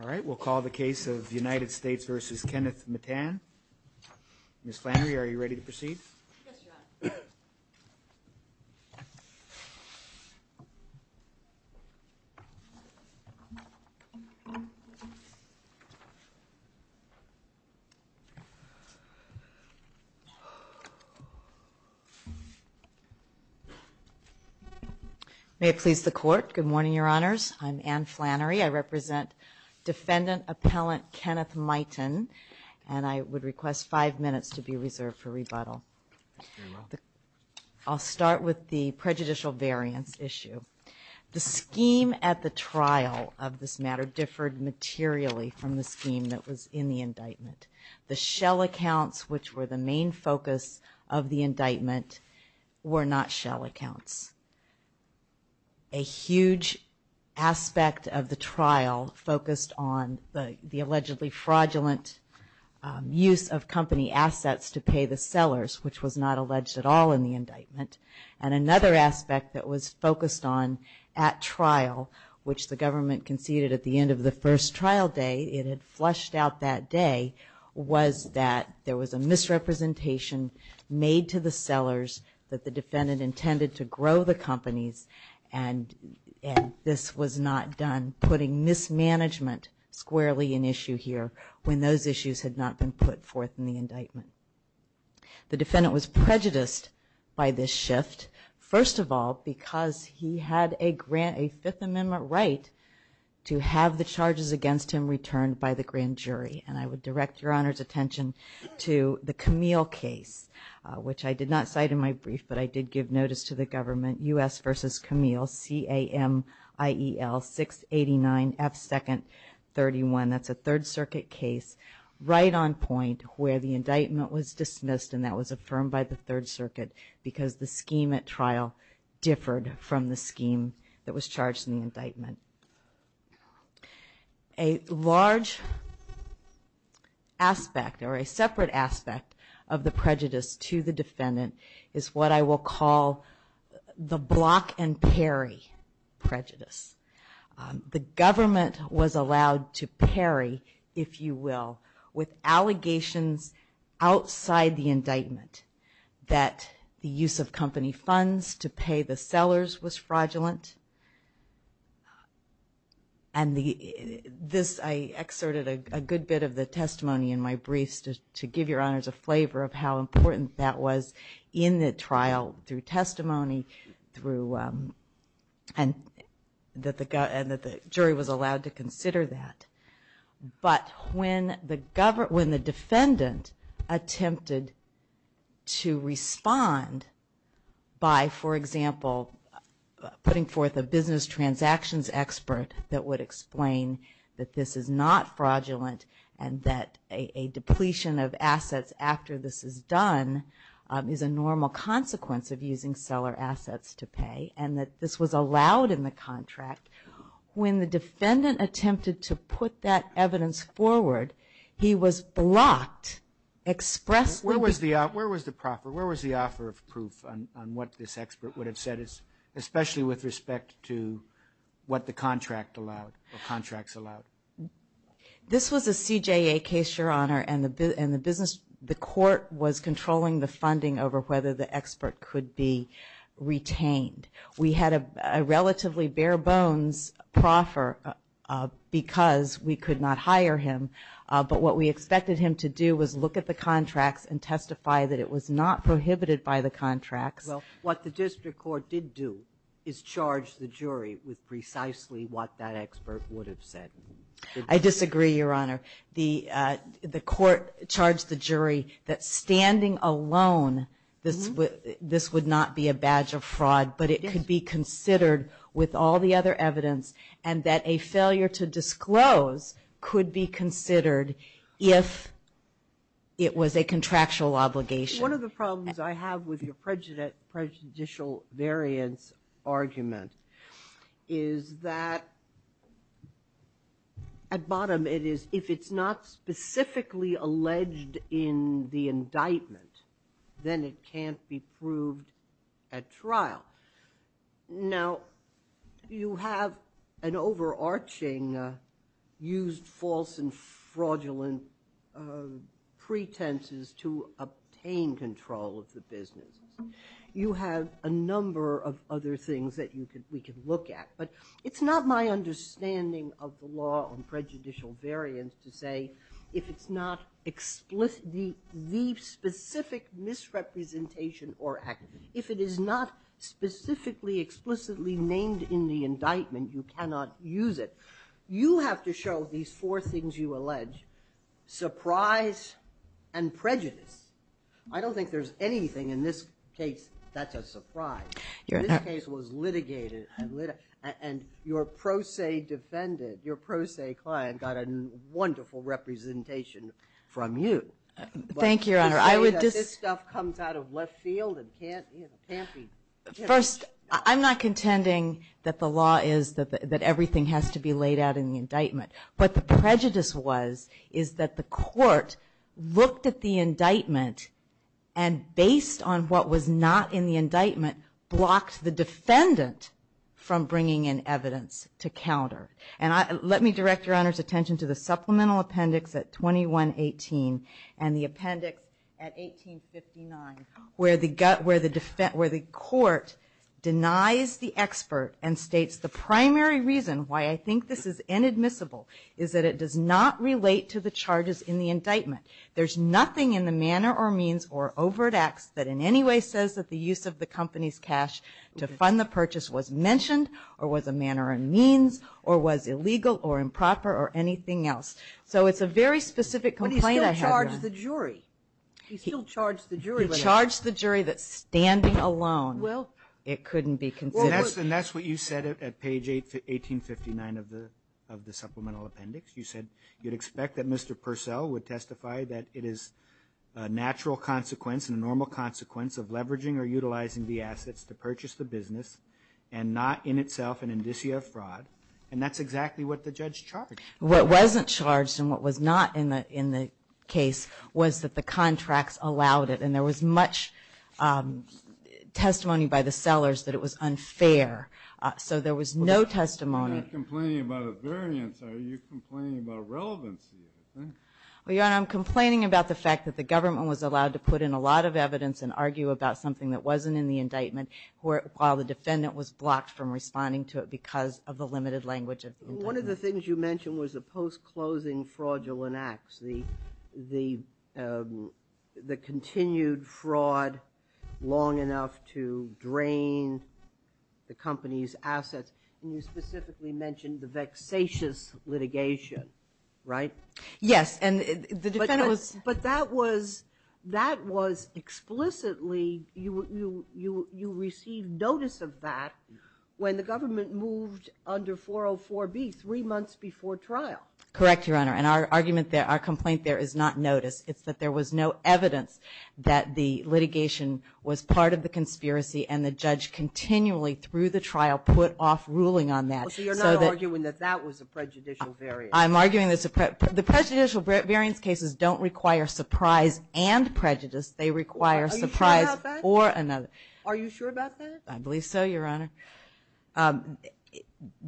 All right, we'll call the case of the United States versus Kenneth Mitan Miss Flannery, are you ready to proceed? May it please the court. Good morning, Your Honors. I'm Ann Flannery. I represent Defendant Appellant Kenneth Mitan, and I would request five minutes to be reserved for rebuttal. I'll start with the prejudicial variance issue. The scheme at the trial of this matter differed materially from the scheme that was in the indictment. The shell accounts, which were the main focus of the indictment, were not shell accounts. A huge aspect of the trial focused on the allegedly fraudulent use of company assets to pay the sellers, which was not alleged at all in the indictment. And another aspect that was focused on at trial, which the government conceded at the end of the first trial day, it had flushed out that day, was that there was a misrepresentation made to the sellers that the defendant intended to grow the companies. And this was not done, putting mismanagement squarely an issue here when those issues had not been put forth in the indictment. The defendant was prejudiced by this shift, first of all, because he had a Fifth Amendment right to have the charges against him returned by the grand jury. And I would direct Your Honor's attention to the Camille case, which I did not cite in my brief, but I did give notice to the government, U.S. v. Camille, C-A-M-I-E-L-689-F-2-31. That's a Third Circuit case right on point where the indictment was dismissed and that was affirmed by the Third Circuit because the scheme at trial differed from the scheme that was charged in the indictment. A large aspect or a separate aspect of the prejudice to the defendant is what I will call the block and parry prejudice. The government was allowed to parry, if you will, with allegations outside the indictment that the use of company funds to pay the sellers was fraudulent. And this, I excerpted a good bit of the testimony in my briefs to give Your Honors a flavor of how important that was in the trial through testimony and that the jury was allowed to consider that. But when the defendant attempted to respond by, for example, putting forth a business transactions expert that would explain that this is not fraudulent and that a depletion of assets after this is done is a normal consequence of using seller assets to pay and that this was allowed in the contract. When the defendant attempted to put that evidence forward, he was blocked expressly. Where was the offer of proof on what this expert would have said? Especially with respect to what the contract allowed or contracts allowed? This was a CJA case, Your Honor, and the court was controlling the funding over whether the expert could be retained. We had a relatively bare bones proffer because we could not hire him. But what we expected him to do was look at the contracts and testify that it was not prohibited by the contracts. Well, what the district court did do is charge the jury with precisely what that expert would have said. I disagree, Your Honor. The court charged the jury that standing alone, this would not be a badge of fraud, but it could be considered with all the other evidence and that a failure to disclose could be considered if it was a contractual obligation. One of the problems I have with your prejudicial variance argument is that at bottom it is, if it's not specifically alleged in the indictment, then it can't be proved at trial. Now, you have an overarching used false and fraudulent pretenses to obtain that evidence. You have a number of other things that we can look at, but it's not my understanding of the law on prejudicial variance to say if it's not the specific misrepresentation or act. If it is not specifically explicitly named in the indictment, you cannot use it. You have to show these four things you allege, surprise and prejudice. I don't think there's anything in this case that's a surprise. This case was litigated and your pro se defendant, your pro se client got a wonderful representation from you. Thank you, Your Honor. First, I'm not contending that the law is that everything has to be laid out in the indictment. What the prejudice was is that the court looked at the indictment and based on what was not in the indictment, blocked the defendant from bringing in evidence to counter. And let me direct Your Honor's attention to the supplemental appendix at 2118 and the appendix at 1859, where the court denies the expert and states the primary reason why I think this is inadmissible, is that it does not relate to the charges in the indictment. There's nothing in the manner or means or overt acts that in any way says that the use of the company's cash to fund the purchase was mentioned or was a manner and means or was illegal or improper or anything else. So it's a very specific complaint I have, Your Honor. He charged the jury that standing alone it couldn't be considered. And that's what you said at page 1859 of the supplemental appendix. You said you'd expect that Mr. Purcell would testify that it is a natural consequence and a normal consequence of leveraging or utilizing the assets to purchase the business and not in itself an indicia of fraud. And that's exactly what the judge charged. What wasn't charged and what was not in the case was that the contracts allowed it and there was much testimony by the sellers that it was unfair. So there was no testimony. I'm complaining about the fact that the government was allowed to put in a lot of evidence and argue about something that wasn't in the indictment while the defendant was blocked from responding to it because of the limited language of the indictment. One of the things you mentioned was the post-closing fraudulent acts, the continued fraud long enough to drain the company's assets. And you specifically mentioned the vexatious litigation, right? Yes. And the defendant was... But that was explicitly you received notice of that when the government moved under 404B three months before trial. Correct, Your Honor. And our argument there, our complaint there is not notice. It's that there was no evidence that the litigation was part of the conspiracy and the judge continually through the trial put off ruling on that. So you're not arguing that that was a prejudicial variance? I'm arguing that the prejudicial variance cases don't require surprise and prejudice. They require surprise or another. Are you sure about that? I believe so, Your Honor.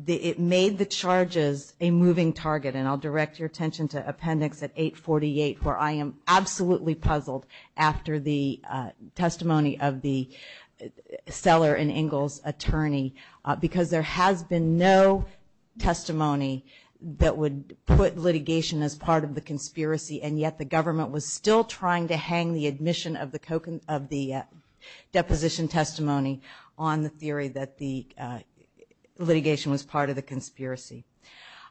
It made the charges a moving target and I'll direct your attention to Appendix 848 where I am absolutely puzzled after the testimony of the seller and Ingalls attorney. Because there has been no testimony that would put litigation as part of the conspiracy. And yet the government was still trying to hang the admission of the deposition testimony on the theory that the litigation was part of the conspiracy.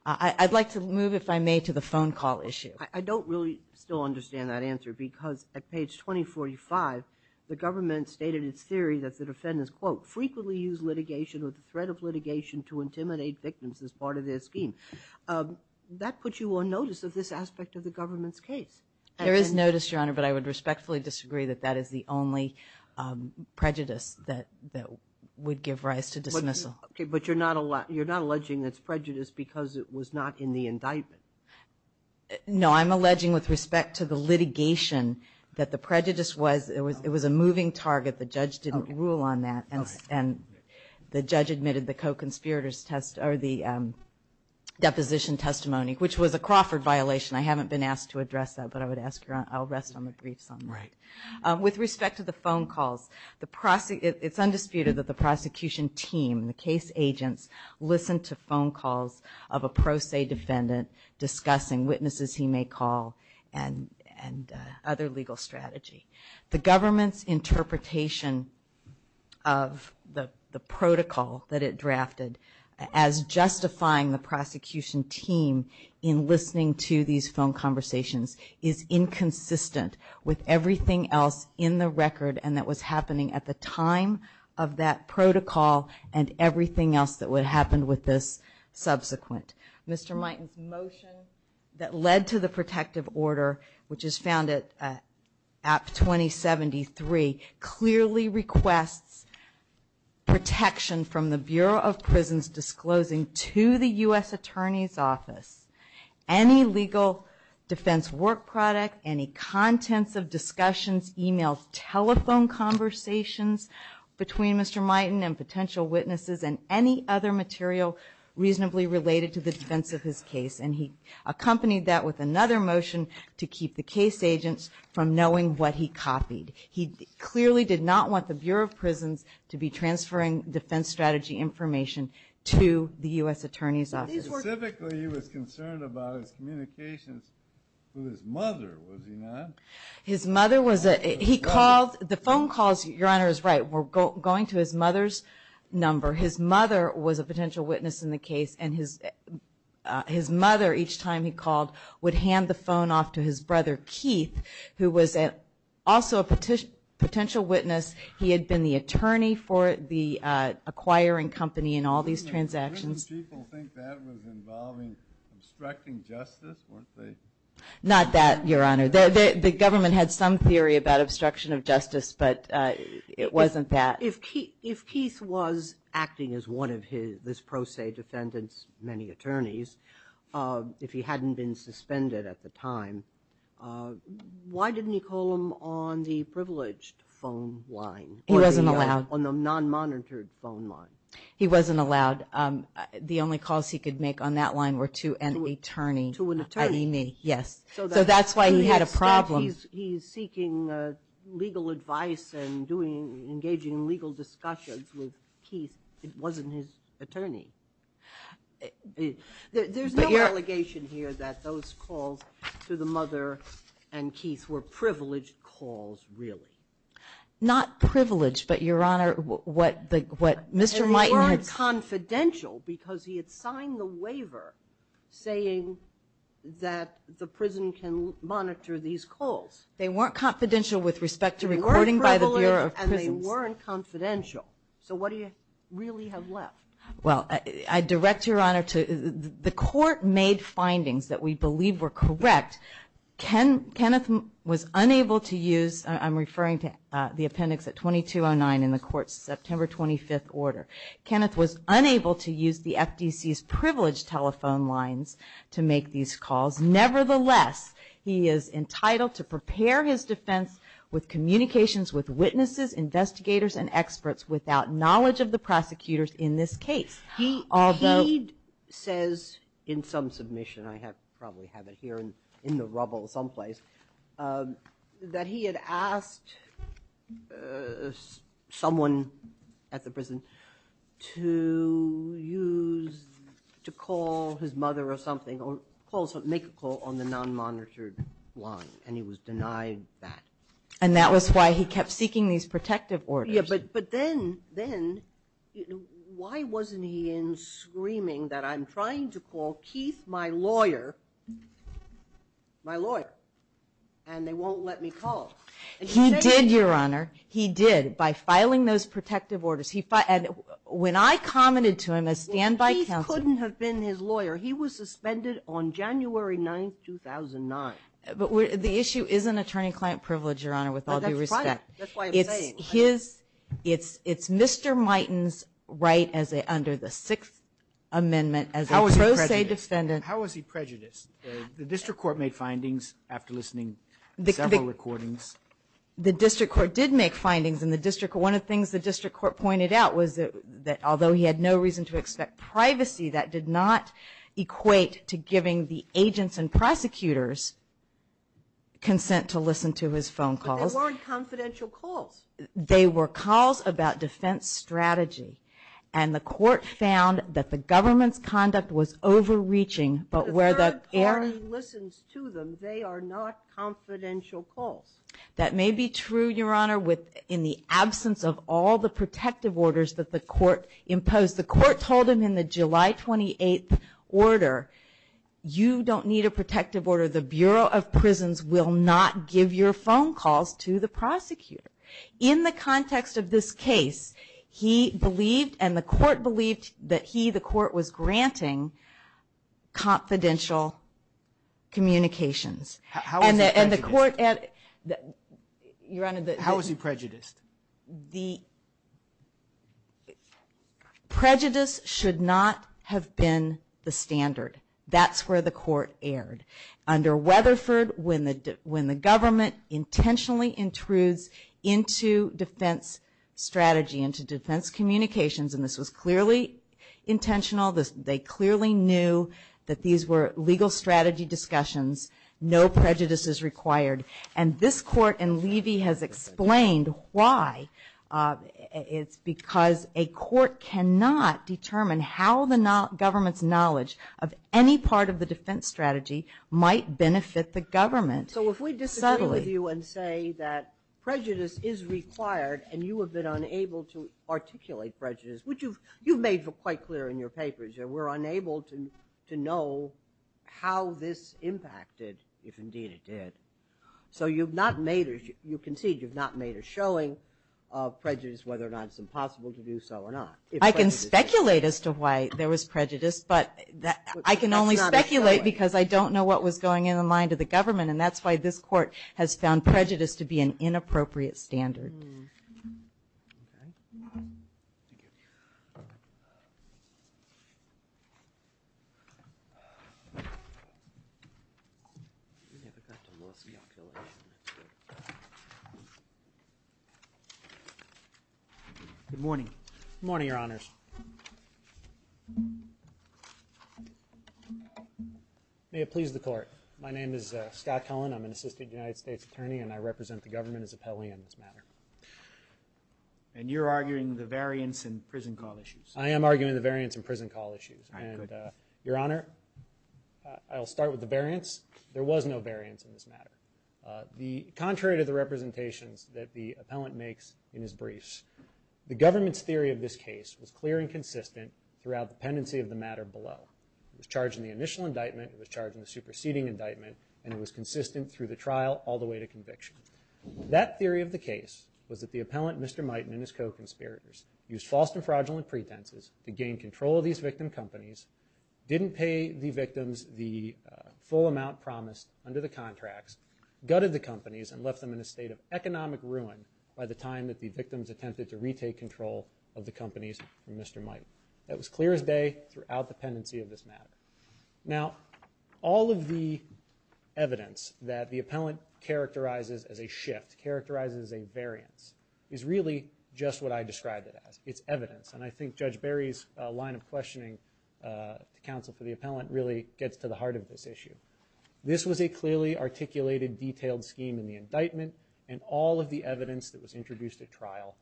I'd like to move, if I may, to the phone call issue. I don't really still understand that answer because at page 2045 the government stated its theory that the defendants, quote, frequently use litigation or the threat of litigation to intimidate victims as part of their scheme. That puts you on notice of this aspect of the government's case. There is notice, Your Honor, but I would respectfully disagree that that is the only prejudice that would give rise to dismissal. Okay, but you're not alleging it's prejudice because it was not in the indictment? No, I'm alleging with respect to the litigation that the prejudice was, it was a moving target. The judge didn't rule on that. And the judge admitted the co-conspirators test or the deposition testimony, which was a Crawford violation. I haven't been asked to address that, but I would ask, I'll rest on the briefs on that. With respect to the phone calls, it's undisputed that the prosecution team, the case agents, listened to phone calls of a pro se defendant discussing witnesses he may call and other legal strategy. The government's interpretation of the protocol that it drafted as justifying the prosecution team in listening to these phone conversations is inconsistent with everything that the prosecution team did. There was nothing else in the record and that was happening at the time of that protocol and everything else that would happen with this subsequent. Mr. Miten's motion that led to the protective order, which is found at APT 2073, clearly requests protection from the Bureau of Prisons disclosing to the U.S. Attorney's Office any legal defense work product, any contents of discussion to the U.S. Attorney's Office. Mr. Miten's email telephone conversations between Mr. Miten and potential witnesses and any other material reasonably related to the defense of his case. And he accompanied that with another motion to keep the case agents from knowing what he copied. He clearly did not want the Bureau of Prisons to be transferring defense strategy information to the U.S. Attorney's Office. Specifically, he was concerned about his communications with his mother, was he not? His mother was a, he called, the phone calls, your Honor is right, were going to his mother's number. His mother was a potential witness in the case and his mother, each time he called, would hand the phone off to his brother, Keith, who was also a potential witness. He had been the attorney for the acquiring company in all these transactions. Didn't people think that was involving obstructing justice, weren't they? Not that, your Honor, the government had some theory about obstruction of justice, but it wasn't that. If Keith was acting as one of his, this pro se defendants, many attorneys, if he hadn't been suspended at the time, why didn't he call him on the privileged phone line? He wasn't allowed. The only calls he could make on that line were to an attorney. To an attorney. Yes, so that's why he had a problem. He's seeking legal advice and engaging in legal discussions with Keith, it wasn't his attorney. There's no allegation here that those calls to the mother and Keith were privileged calls, really. Not privileged, but, your Honor, what Mr. Miten had said. They weren't confidential because he had signed the waiver saying that the prison can monitor these calls. They weren't confidential with respect to recording by the Bureau of Prisons. They weren't privileged and they weren't confidential, so what do you really have left? Well, I direct, your Honor, the court made findings that we believe were correct. Kenneth was unable to use, I'm referring to the appendix at 2209 in the court's September 25th order. Kenneth was unable to use the FDC's privileged telephone lines to make these calls. Nevertheless, he is entitled to prepare his defense with communications with witnesses, investigators, and experts without knowledge of the prosecutors in this case. He says in some submission, I probably have it here in the rubble someplace, that he had asked someone at the prison to use, to call his mother or something, make a call on the non-monitored line and he was denied that. And that was why he kept seeking these protective orders. Yeah, but then, why wasn't he in screaming that I'm trying to call Keith, my lawyer, my lawyer, and they won't let me call? He did, your Honor, he did, by filing those protective orders. When I commented to him as standby counsel... Well, Keith couldn't have been his lawyer. He was suspended on January 9th, 2009. But the issue is an attorney-client privilege, your Honor, with all due respect. It's Mr. Mighton's right under the Sixth Amendment as a pro se defendant. How was he prejudiced? The district court made findings after listening to several recordings. The district court did make findings. One of the things the district court pointed out was that although he had no reason to expect privacy, that did not equate to giving the agents and prosecutors consent to listen to his phone calls. But they weren't confidential calls. They were calls about defense strategy. And the court found that the government's conduct was overreaching. But where the third party listens to them, they are not confidential calls. That may be true, your Honor, in the absence of all the protective orders that the court imposed. The court told him in the July 28th order, you don't need a protective order. The Bureau of Prisons will not give your phone calls to the prosecutor. In the context of this case, he believed and the court believed that he, the court, was granting confidential communications. How was he prejudiced? Prejudice should not have been the standard. That's where the court erred. Under Weatherford, when the government intentionally intrudes into defense strategy, into defense communications, and this was clearly intentional, they clearly knew that these were legal strategy discussions. No prejudice is required. And this court in Levy has explained why. It's because a court cannot determine how the government's knowledge of any part of the defense strategy might benefit the government. So if we disagree with you and say that prejudice is required and you have been unable to articulate prejudice, which you've made quite clear in your papers. We're unable to know how this impacted, if indeed it did. So you've not made, you concede you've not made a showing of prejudice, whether or not it's impossible to do so or not. I can speculate as to why there was prejudice, but I can only speculate because I don't know what was going in the mind of the government. And that's why this court has found prejudice to be an inappropriate standard. Good morning. Good morning, Your Honors. May it please the court. My name is Scott Cullen. I'm an assistant United States attorney and I represent the government as appellee on this matter. And you're arguing the variance in prison call issues. I am arguing the variance in prison call issues. Your Honor, I'll start with the variance. There was no variance in this matter. Contrary to the representations that the appellant makes in his briefs, the government's theory of this case was clear and consistent throughout the pendency of the matter below. It was charged in the initial indictment, it was charged in the superseding indictment, and it was consistent through the trial all the way to conviction. That theory of the case was that the appellant, Mr. Miten, and his co-conspirators used false and fraudulent pretenses to gain control of these victim companies, didn't pay the victims the full amount promised under the contracts, gutted the companies, and left them in a state of economic ruin by the time that the victims attempted to retake control of the companies from Mr. Miten. That was clear as day throughout the pendency of this matter. Now, all of the evidence that the appellant characterizes as a shift, characterizes as a variance, is really just what I described it as. It's evidence, and I think Judge Barry's line of questioning to counsel for the appellant really gets to the heart of this issue. This was a clearly articulated, detailed scheme in the indictment, and all of the evidence that was introduced at trial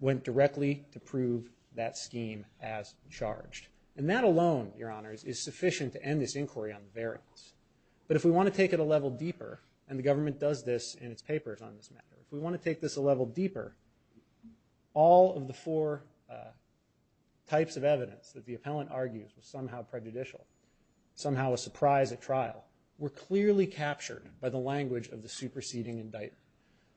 went directly to prove that scheme as charged. And that alone, Your Honors, is sufficient to end this inquiry on the variance. But if we want to take it a level deeper, and the government does this in its papers on this matter, if we want to take this a level deeper, all of the four types of evidence that the appellant argues was somehow prejudicial, somehow a surprise at trial, were clearly captured by the language of the superseding indictment.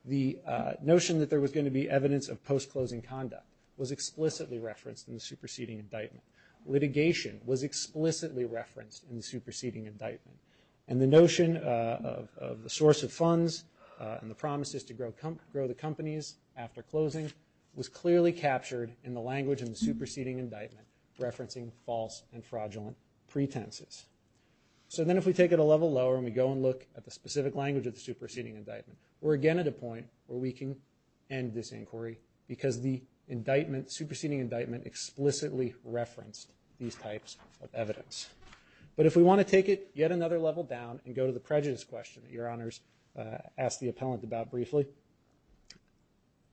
The notion that there was going to be evidence of post-closing conduct was explicitly referenced in the superseding indictment. Litigation was explicitly referenced in the superseding indictment. And the notion of the source of funds, and the promises to grow the companies after closing, was clearly captured in the language of the superseding indictment, referencing false and fraudulent pretenses. So then if we take it a level lower, and we go and look at the specific language of the superseding indictment, we're again at a point where we can end this inquiry, because the superseding indictment explicitly referenced, these types of evidence. But if we want to take it yet another level down, and go to the prejudice question that Your Honors asked the appellant about briefly,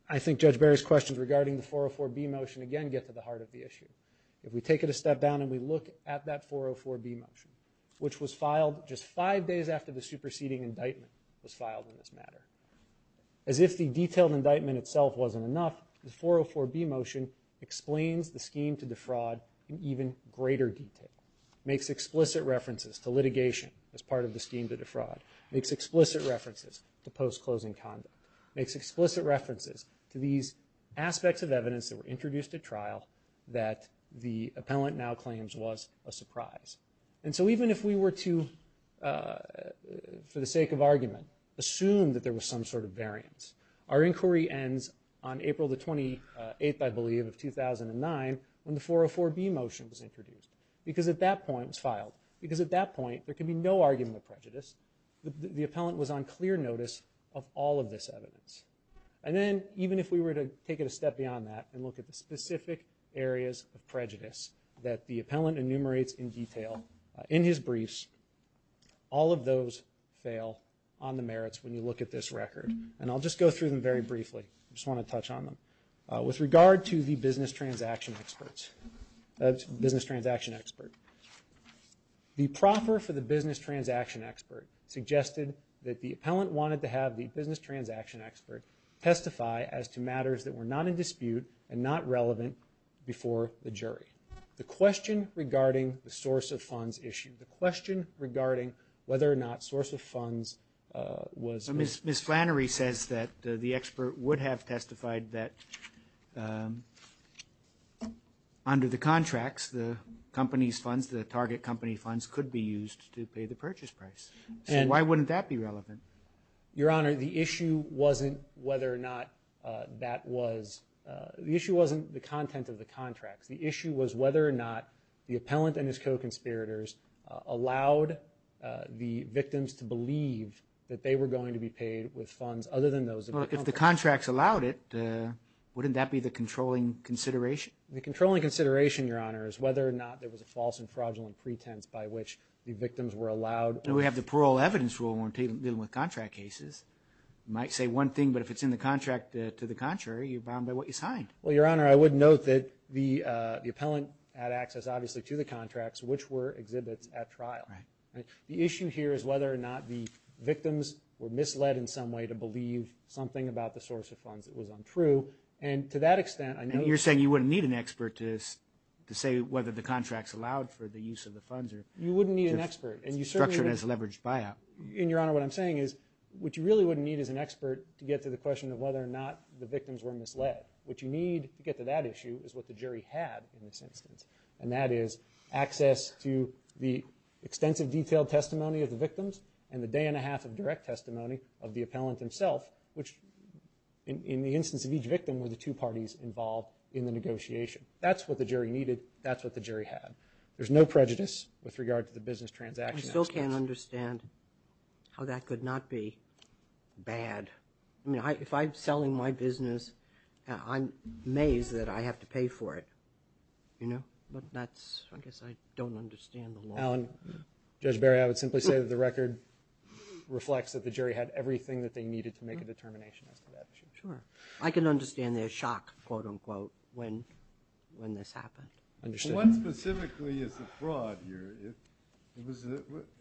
I think Judge Barry's questions regarding the 404B motion again get to the heart of the issue. If we take it a step down and we look at that 404B motion, which was filed just five days after the superseding indictment was filed in this matter. As if the detailed indictment itself wasn't enough, the 404B motion explains the scheme to defraud, in greater detail, makes explicit references to litigation as part of the scheme to defraud, makes explicit references to post-closing conduct, makes explicit references to these aspects of evidence that were introduced at trial that the appellant now claims was a surprise. And so even if we were to, for the sake of argument, assume that there was some sort of variance, our inquiry ends on April the 28th, I believe, of 2009, when the 404B motion was introduced. Because at that point, it was filed, because at that point there could be no argument of prejudice. The appellant was on clear notice of all of this evidence. And then even if we were to take it a step beyond that and look at the specific areas of prejudice that the appellant enumerates in detail in his briefs, all of those fail on the merits when you look at this record. And I'll just go through them very briefly. I just want to touch on them. With regard to the business transaction expert. The proffer for the business transaction expert suggested that the appellant wanted to have the business transaction expert testify as to matters that were not in dispute and not relevant before the jury. The question regarding the source of funds issue. The question regarding whether or not source of funds was. Ms. Flannery says that the expert would have testified that under the contracts, the company's funds, the target company funds could be used to pay the purchase price. And why wouldn't that be relevant? The issue wasn't the content of the contracts. It was whether or not the contract allowed the victims to believe that they were going to be paid with funds other than those. If the contracts allowed it, wouldn't that be the controlling consideration? The controlling consideration, Your Honor, is whether or not there was a false and fraudulent pretense by which the victims were allowed. And we have the parole evidence rule when dealing with contract cases. Might say one thing, but if it's in the contract to the contrary, you're bound by what you signed. Well, Your Honor, I would note that the appellant had access, obviously, to the contracts, which were exhibits at trial. The issue here is whether or not the victims were misled in some way to believe something about the source of funds that was untrue. And to that extent, I know you're saying you wouldn't need an expert to say whether the contracts allowed for the use of the funds. You wouldn't need an expert. And, Your Honor, what I'm saying is what you really wouldn't need is an expert to get to the question of whether or not the victims were misled. What you need to get to that issue is what the jury had in this instance. And that is access to the extensive detailed testimony of the victims and the day and a half of direct testimony of the appellant himself, which in the instance of each victim were the two parties involved in the negotiation. That's what the jury needed. That's what the jury had. There's no prejudice with regard to the business transaction. I still can't understand how that could not be bad. I mean, if I'm selling my business, I'm amazed that I have to pay for it. But that's, I guess, I don't understand the law. Mr. Allen, Judge Barry, I would simply say that the record reflects that the jury had everything that they needed to make a determination as to that issue. I can understand their shock, quote unquote, when this happened. One specifically is the fraud here.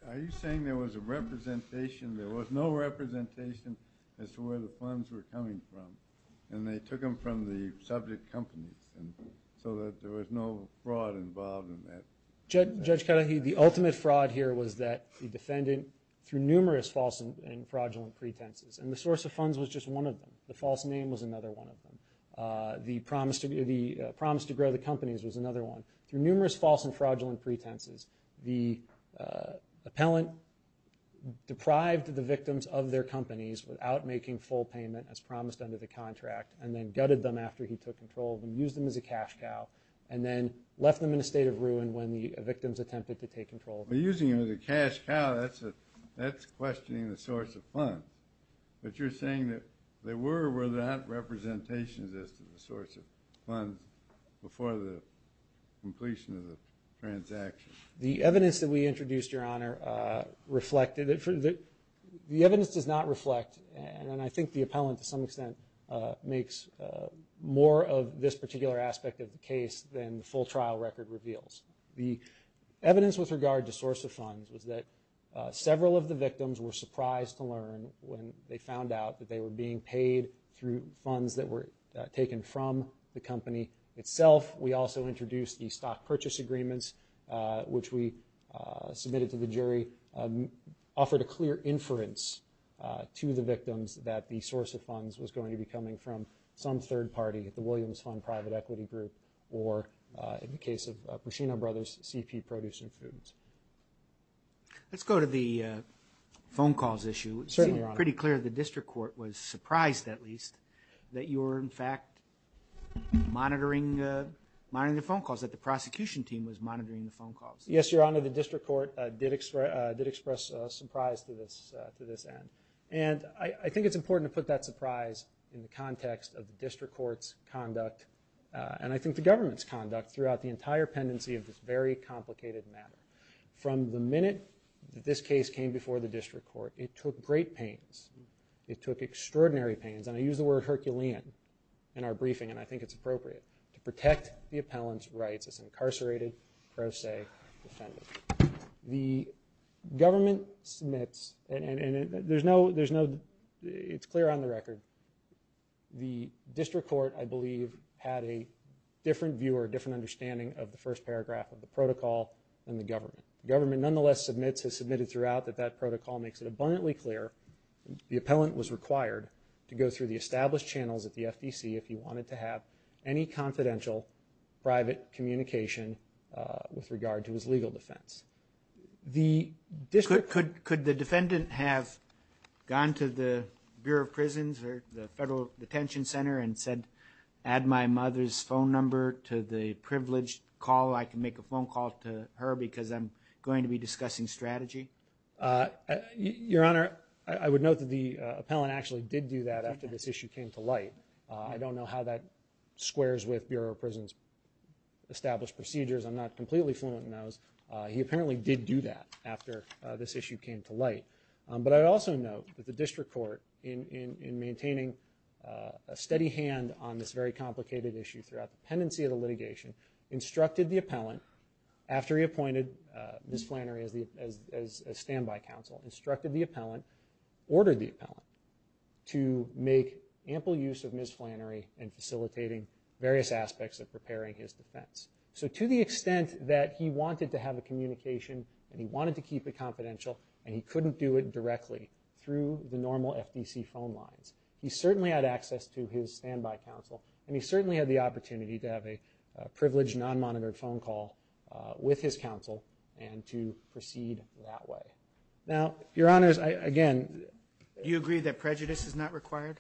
Are you saying there was a representation, there was no representation as to where the funds were coming from, and they took them from the subject companies so that there was no fraud involved in that? Judge Karahi, the ultimate fraud here was that the defendant, through numerous false and fraudulent pretenses, and the source of funds was just one of them. The false name was another one of them. The promise to grow the companies was another one. Through numerous false and fraudulent pretenses, the appellant deprived the victims of their companies without making full payment as promised under the contract, and then gutted them after he took control of them, used them as a cash cow, and then left them in a state of ruin when the victims attempted to take control of them. But using them as a cash cow, that's questioning the source of funds. But you're saying that there were or were there not representations as to the source of funds before the completion of the transaction? The evidence that we introduced, Your Honor, the evidence does not reflect, and I think the appellant, to some extent, makes more of this particular aspect of the case than the full trial record reveals. The evidence with regard to source of funds was that several of the victims were surprised to learn when they found out that they were being paid through funds that were taken from the company itself. We also introduced the stock purchase agreements, which we submitted to the jury, offered a clear inference to the victims that the source of funds was going to be coming from some third party, the Williams Fund Private Equity Group, or in the case of Prucino Brothers, CP Produce and Foods. Let's go to the phone calls issue. Certainly, Your Honor. Monitoring the phone calls, that the prosecution team was monitoring the phone calls. Yes, Your Honor, the district court did express surprise to this end. I think it's important to put that surprise in the context of the district court's conduct and I think the government's conduct throughout the entire pendency of this very complicated matter. From the minute that this case came before the district court, it took great pains. It took extraordinary pains, and I use the word Herculean in our briefing, and I think it's appropriate, to protect the appellant's rights as an incarcerated pro se defendant. The government submits, and it's clear on the record, the district court, I believe, had a different view or a different understanding of the first paragraph of the protocol than the government. The government, nonetheless, has submitted throughout that that protocol makes it abundantly clear the appellant was required to go through the established channels at the FDC if he wanted to have any confidential private communication with regard to his legal defense. Could the defendant have gone to the Bureau of Prisons or the Federal Detention Center and said, add my mother's phone number to the privileged call. I know I can make a phone call to her because I'm going to be discussing strategy? Your Honor, I would note that the appellant actually did do that after this issue came to light. I don't know how that squares with Bureau of Prisons' established procedures. I'm not completely fluent in those. He apparently did do that after this issue came to light. But I also note that the district court, in maintaining a steady hand on this very complicated issue throughout the pendency of the litigation, instructed the appellant after he appointed Ms. Flannery as a standby counsel, instructed the appellant, ordered the appellant to make ample use of Ms. Flannery in facilitating various aspects of preparing his defense. So to the extent that he wanted to have a communication and he wanted to keep it confidential and he couldn't do it directly through the normal FDC phone lines, he certainly had access to his standby counsel and he certainly had the opportunity to have a privileged non-monitored phone call with his counsel and to proceed that way. Now, Your Honors, again... Do you agree that prejudice is not required?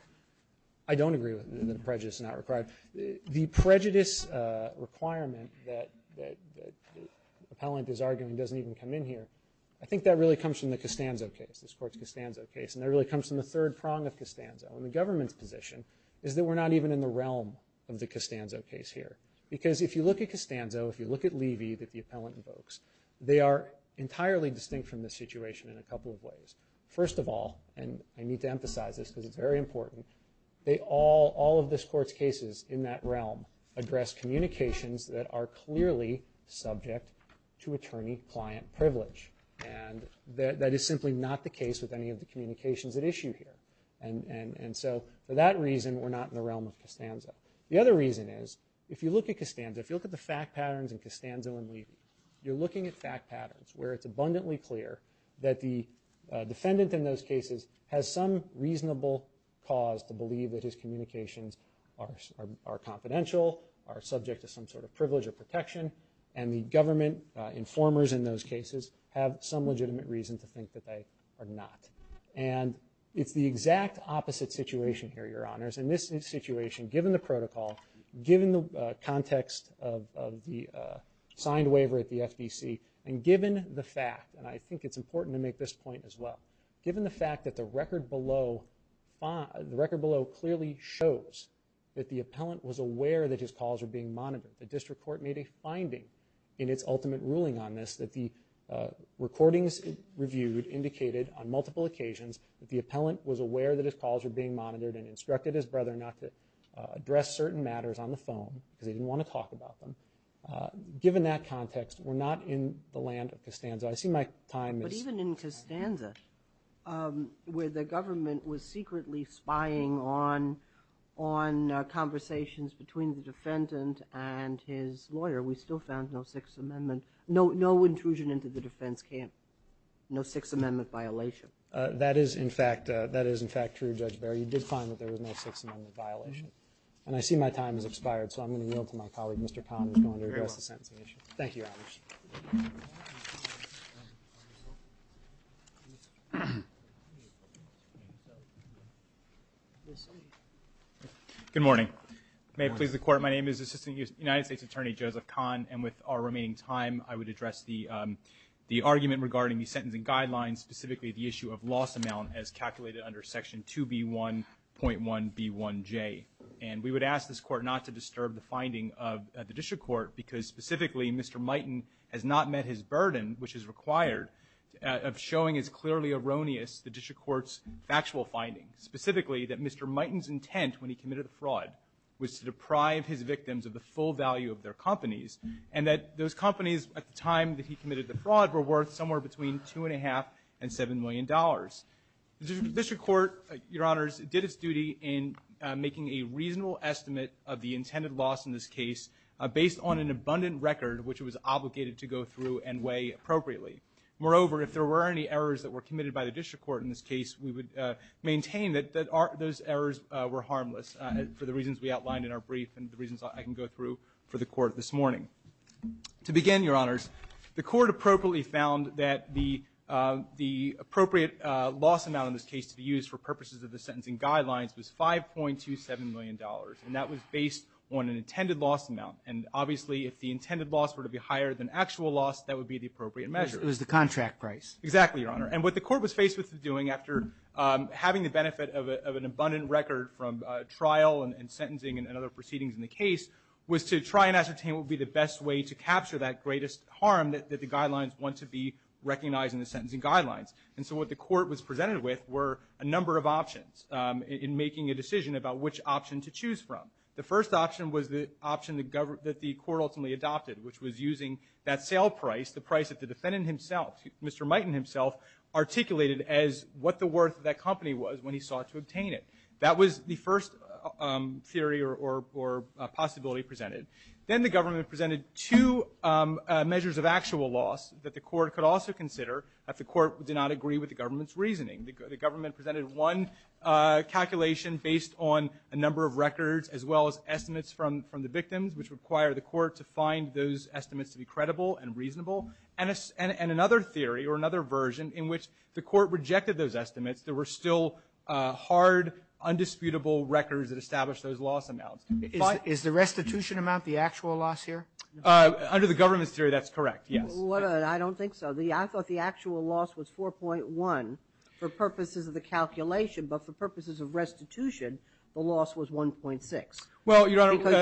I don't agree that prejudice is not required. The prejudice requirement that the appellant is arguing doesn't even come in here. I think that really comes from the Costanzo case, this Court's Costanzo case. And that really comes from the third prong of Costanzo and the government's position is that we're not even in the realm of the Costanzo case here. Because if you look at Costanzo, if you look at Levy that the appellant invokes, they are entirely distinct from this situation in a couple of ways. First of all, and I need to emphasize this because it's very important, all of this Court's cases in that realm address communications that are clearly subject to attorney-client privilege. And that is simply not the case with any of the communications at issue here. And so for that reason, we're not in the realm of Costanzo. The other reason is, if you look at Costanzo, if you look at the fact patterns in Costanzo and Levy, you're looking at fact patterns where it's abundantly clear that the defendant in those cases has some reasonable cause to believe that his communications are confidential, are subject to some sort of privilege or protection, and the government informers in those cases have some legitimate reason to think that they are not. And it's the exact opposite situation here, Your Honors. In this situation, given the protocol, given the context of the signed waiver at the FVC, and given the fact, and I think it's important to make this point as well, given the fact that the record below clearly shows that the appellant was aware that his calls were being monitored, the district court made a finding in its ultimate ruling on this that the recordings reviewed indicated on multiple occasions that the appellant was aware that his calls were being monitored and instructed his brother not to address certain matters on the phone because he didn't want to talk about them. Given that context, we're not in the land of Costanzo. I see my time is... But even in Costanzo, where the government was secretly spying on conversations between the defendant and his lawyer, we still found no Sixth Amendment, no intrusion into the defense camp, no Sixth Amendment violation. That is, in fact, true, Judge Barry. You did find that there was no Sixth Amendment violation. And I see my time has expired, so I'm going to yield to my colleague, Mr. Conn, Thank you, Your Honors. Good morning. May it please the Court. My name is Assistant United States Attorney Joseph Conn, and with our remaining time, I would address the argument regarding the sentencing guidelines, specifically the issue of loss amount as calculated under Section 2B1.1B1J. And we would ask this Court not to disturb the finding of the district court because, specifically, Mr. Mighton has not met his burden, which is required, of showing as clearly erroneous the district court's factual findings, specifically that Mr. Mighton's intent when he committed a fraud was to deprive his victims of the full value of their companies, and that those companies at the time that he committed the fraud were worth somewhere between $2.5 and $7 million. The district court, Your Honors, did its duty in making a reasonable estimate of the intended loss in this case based on an abundant record, which it was obligated to go through and weigh appropriately. Moreover, if there were any errors that were committed by the district court in this case, we would maintain that those errors were harmless for the reasons we outlined in our brief and the reasons I can go through for the Court this morning. To begin, Your Honors, the Court appropriately found that the appropriate loss amount in this case to be used for purposes of the sentencing guidelines was $5.27 million, and that was based on an intended loss amount. And obviously, if the intended loss were to be higher than actual loss, that would be the appropriate measure. It was the contract price. Exactly, Your Honor. And what the Court was faced with doing after having the benefit of an abundant record from trial and sentencing and other proceedings in the case was to try and ascertain what would be the best way to capture that greatest harm that the guidelines want to be recognized in the sentencing guidelines. And so what the Court was presented with were a number of options in making a decision about which option to choose from. The first option was the option that the Court ultimately adopted, which was using that sale price, the price that the defendant himself, Mr. Mighton himself, articulated as what the worth of that company was when he sought to obtain it. That was the first theory or possibility presented. Then the government presented two measures of actual loss that the Court could also consider if the Court did not agree with the government's reasoning. The government presented one calculation based on a number of records as well as estimates from the victims, which require the Court to find those estimates to be credible and reasonable. And another theory or another version in which the Court rejected those estimates, there were still hard, undisputable records that established those loss amounts. Is the restitution amount the actual loss here? Under the government's theory, that's correct, yes. I don't think so. I thought the actual loss was 4.1 for purposes of the calculation, but for purposes of restitution, the loss was 1.6. Because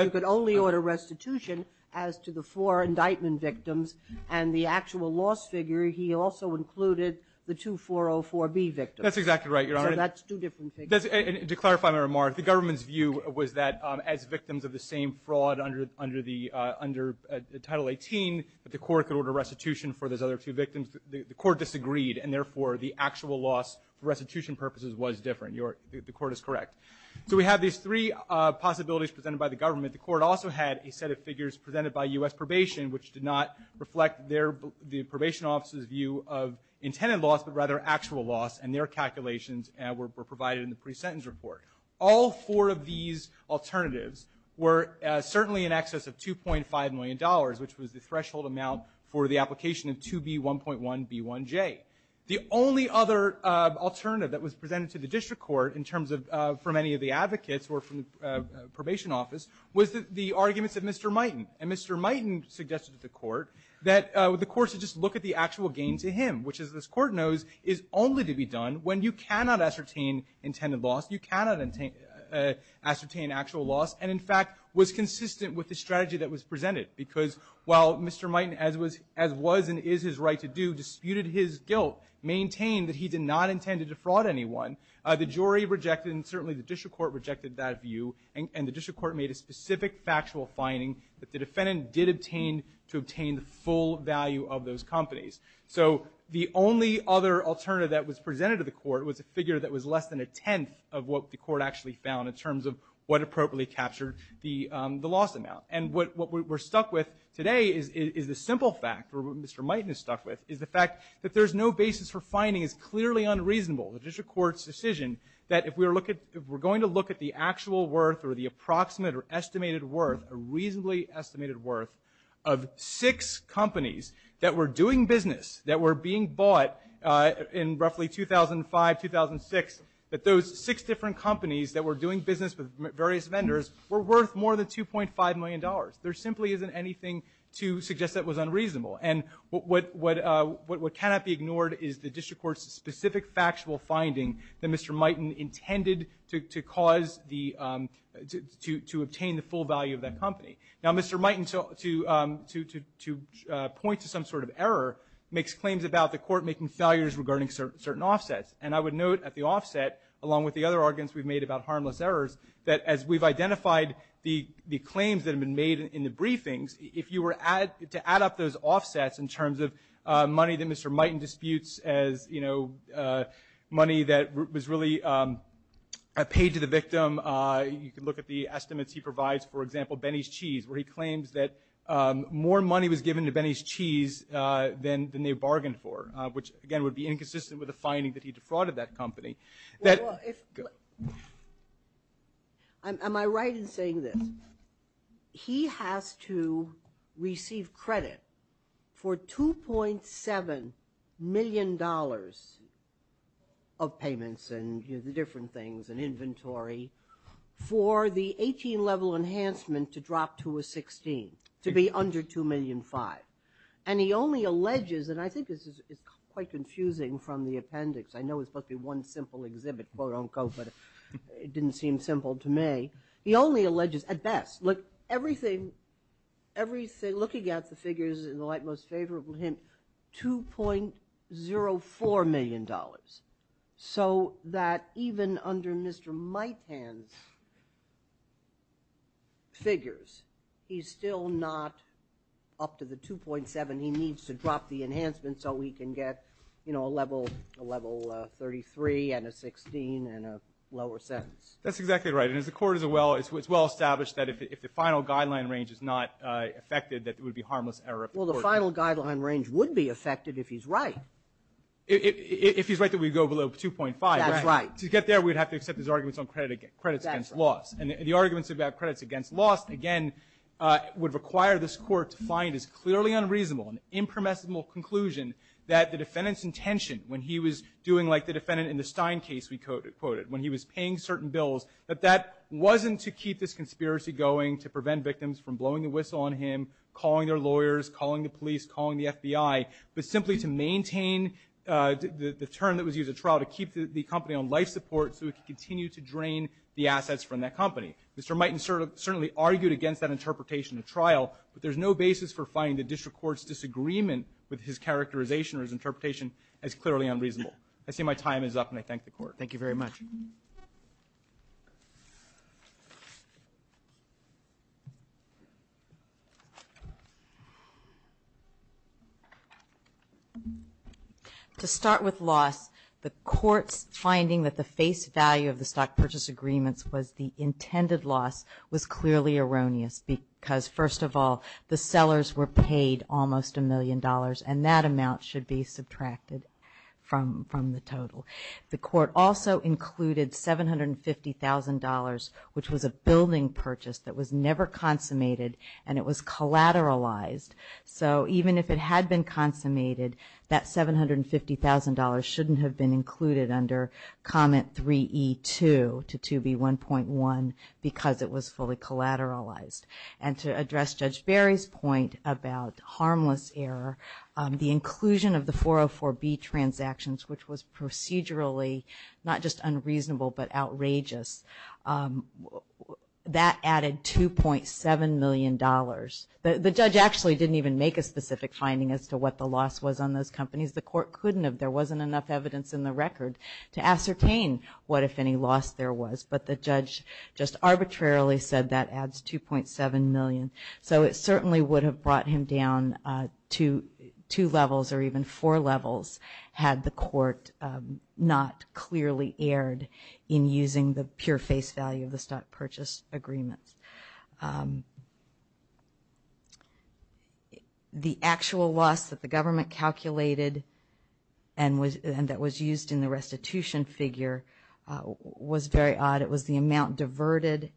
you could only order restitution as to the four indictment victims and the actual loss figure, he also included the 2404B victims. That's exactly right, Your Honor. So that's two different figures. To clarify my remark, the government's view was that as victims of the same fraud under Title 18, that the Court could order restitution for those other two victims. The Court disagreed, and therefore the actual loss for restitution purposes was different. The Court is correct. So we have these three possibilities presented by the government. The Court also had a set of figures presented by U.S. Probation which did not reflect the Probation Office's view of intended loss, but rather actual loss, and their calculations were provided in the pre-sentence report. All four of these alternatives were certainly in excess of $2.5 million, which was the threshold amount for the application of 2B1.1B1J. The only other alternative that was presented to the District Court in terms of for many of the advocates who were from the Probation Office was the arguments of Mr. Miten. And Mr. Miten suggested to the Court that the Court should just look at the actual gain to him, which as this Court knows, is only to be done when you cannot ascertain intended loss, you cannot ascertain actual loss, and in fact was consistent with the strategy that was presented. Because while Mr. Miten, as was and is his right to do, disputed his guilt, maintained that he did not intend to defraud anyone, the jury rejected and certainly the District Court rejected that view, and the District Court made a specific factual finding that the defendant did obtain to obtain the full value of those companies. So the only other alternative that was presented to the Court was a figure that was less than a tenth of what the Court actually found in terms of what appropriately captured the loss amount. And what we're stuck with today is the simple fact, or what Mr. Miten is stuck with, is the fact that there's no basis for finding as clearly unreasonable, the District Court's decision, that if we're going to look at the actual worth or the approximate or estimated worth, a reasonably estimated worth, of six companies that were doing business, that were being bought in roughly 2005, 2006, that those six different companies that were doing business with various vendors were worth more than $2.5 million. There simply isn't anything to suggest that was unreasonable. And what cannot be ignored is the District Court's specific factual finding that Mr. Miten intended to cause the — to obtain the full value of that company. Now, Mr. Miten, to point to some sort of error, makes claims about the Court making failures regarding certain offsets. And I would note at the offset, along with the other arguments we've made about harmless errors, that as we've identified the claims that have been made in the briefings, if you were to add up those offsets in terms of money that Mr. Miten disputes as, you know, money that was really paid to the victim, you can look at the estimates he provides, for example, Benny's Cheese, where he claims that more money was given to Benny's Cheese than they bargained for, which, again, would be inconsistent with the finding that he defrauded that company. Well, if — am I right in saying this? He has to receive credit for $2.7 million of payments and different things and inventory for the 18-level enhancement to drop to a 16, to be under $2.5 million. And he only alleges, and I think this is quite confusing from the appendix, I know it's supposed to be one simple exhibit, quote-unquote, but it didn't seem simple to me. He only alleges, at best, look, everything, looking at the figures in the light most favorable hint, $2.04 million. So that even under Mr. Miten's figures, he's still not up to the 2.7. And he needs to drop the enhancement so he can get, you know, a level 33 and a 16 and a lower sentence. That's exactly right. And as the Court has well established that if the final guideline range is not affected, that it would be harmless error of the Court. Well, the final guideline range would be affected if he's right. If he's right that we go below 2.5. That's right. To get there, we'd have to accept his arguments on credits against loss. And the arguments about credits against loss, again, would require this Court to find as clearly unreasonable and impermissible conclusion that the defendant's intention when he was doing like the defendant in the Stein case we quoted, when he was paying certain bills, that that wasn't to keep this conspiracy going to prevent victims from blowing the whistle on him, calling their lawyers, calling the police, calling the FBI, but simply to maintain the term that was used at trial to keep the company on life support so it could continue to drain the assets from that company. Mr. Miten certainly argued against that interpretation at trial, but there's no basis for finding the district court's disagreement with his characterization or his interpretation as clearly unreasonable. I see my time is up, and I thank the Court. Thank you very much. To start with loss, the Court's finding that the face value of the stock purchase agreements was the intended loss was clearly erroneous because, first of all, the sellers were paid almost a million dollars, and that amount should be subtracted from the total. The Court also included $750,000, which was a building purchase that was never consummated, and it was collateralized. So even if it had been consummated, that $750,000 shouldn't have been included under comment 3E2 to 2B1.1 because it was fully collateralized. And to address Judge Barry's point about harmless error, the inclusion of the 404B transactions, which was procedurally not just unreasonable but outrageous, that added $2.7 million. The judge actually didn't even make a specific finding as to what the loss was on those companies. The Court couldn't have. There wasn't enough evidence in the record to ascertain what, if any, loss there was. But the judge just arbitrarily said that adds $2.7 million. So it certainly would have brought him down two levels or even four levels had the Court not clearly erred in using the pure face value of the stock purchase agreements. The actual loss that the government calculated and that was used in the restitution figure was very odd. It was the amount diverted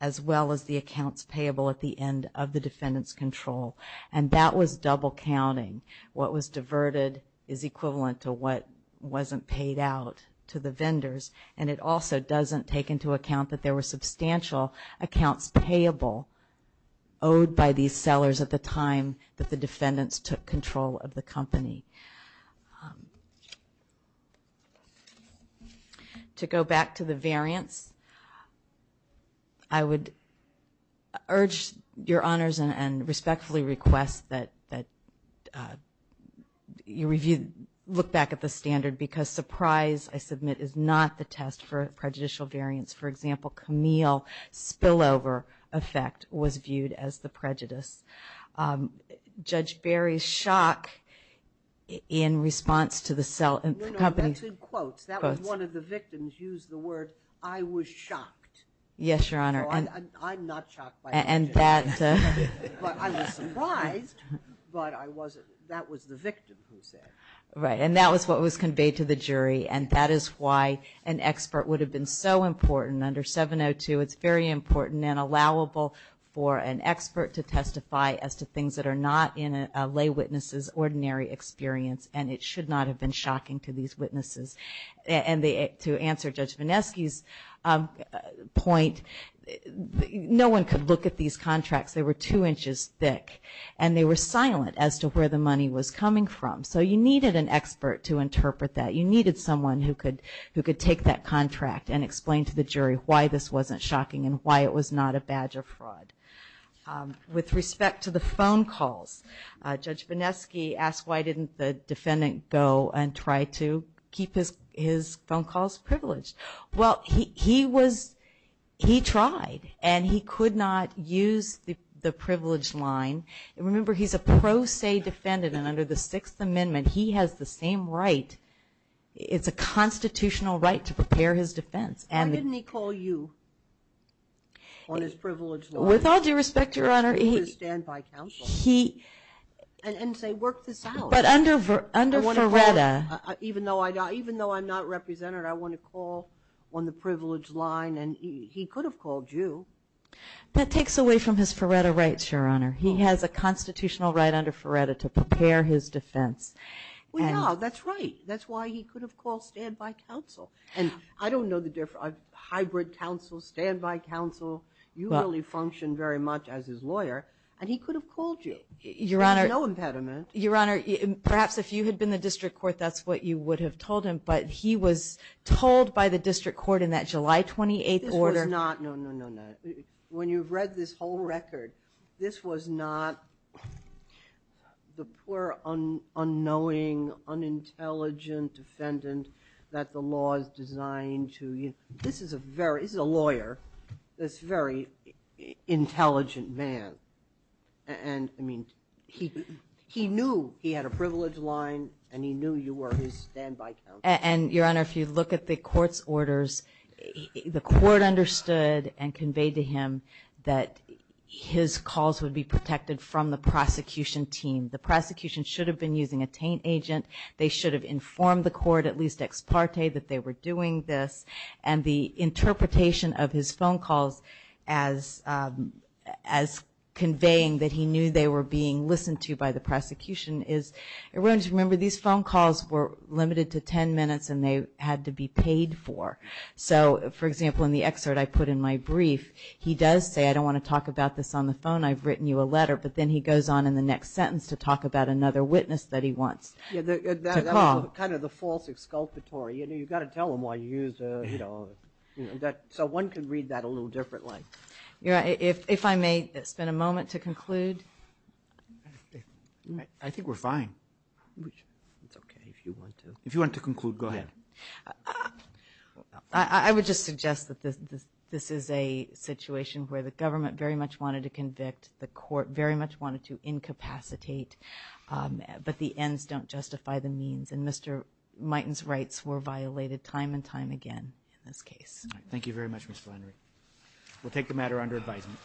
as well as the accounts payable at the end of the defendant's control. And that was double counting. What was diverted is equivalent to what wasn't paid out to the vendors, and it also doesn't take into account that there were substantial accounts payable owed by these sellers at the time that the defendants took control of the company. To go back to the variance, I would urge your honors and respectfully request that you look back at the standard because surprise, I submit, is not the test for prejudicial variance. For example, Camille spillover effect was viewed as the prejudice. Judge Barry's shock in response to the company quotes. No, no, that's in quotes. That was one of the victims used the word, I was shocked. Yes, Your Honor. I'm not shocked by that. I was surprised, but I wasn't. That was the victim who said it. Right, and that was what was conveyed to the jury, and that is why an expert would have been so important. Under 702, it's very important and allowable for an expert to testify as to things that are not in a lay witness's ordinary experience, and it should not have been shocking to these witnesses. And to answer Judge Vineski's point, no one could look at these contracts. They were two inches thick, and they were silent as to where the money was coming from. So you needed an expert to interpret that. You needed someone who could take that contract and explain to the jury why this wasn't shocking and why it was not a badge of fraud. With respect to the phone calls, Judge Vineski asked why didn't the defendant go and try to keep his phone calls privileged. Well, he tried, and he could not use the privileged line. Remember, he's a pro se defendant, and under the Sixth Amendment, he has the same right. It's a constitutional right to prepare his defense. Why didn't he call you on his privileged line? With all due respect, Your Honor, he... He would have stood by counsel and say, work this out. But under Faretta... Even though I'm not represented, I want to call on the privileged line, and he could have called you. That takes away from his Faretta rights, Your Honor. He has a constitutional right under Faretta to prepare his defense. Well, yeah, that's right. That's why he could have called standby counsel. And I don't know the difference. Hybrid counsel, standby counsel, you really function very much as his lawyer, and he could have called you. Your Honor... There's no impediment. Your Honor, perhaps if you had been the district court, that's what you would have told him, but he was told by the district court in that July 28th order... No, no, no, no. When you've read this whole record, this was not the poor, unknowing, unintelligent defendant that the law is designed to... This is a lawyer that's a very intelligent man. And, I mean, he knew he had a privileged line, and he knew you were his standby counsel. And, Your Honor, if you look at the court's orders, the court understood and conveyed to him that his calls would be protected from the prosecution team. The prosecution should have been using a taint agent. They should have informed the court, at least ex parte, that they were doing this. And the interpretation of his phone calls as conveying that he knew they were being listened to by the prosecution is, remember, these phone calls were limited to 10 minutes, and they had to be paid for. So, for example, in the excerpt I put in my brief, he does say, I don't want to talk about this on the phone, I've written you a letter. But then he goes on in the next sentence to talk about another witness that he wants to call. That was kind of the false exculpatory. You've got to tell them why you used... So one could read that a little differently. If I may spend a moment to conclude. I think we're fine. It's okay if you want to. If you want to conclude, go ahead. I would just suggest that this is a situation where the government very much wanted to convict, the court very much wanted to incapacitate, but the ends don't justify the means. And Mr. Miten's rights were violated time and time again in this case. Thank you very much, Ms. Flannery. We'll take the matter under advisement.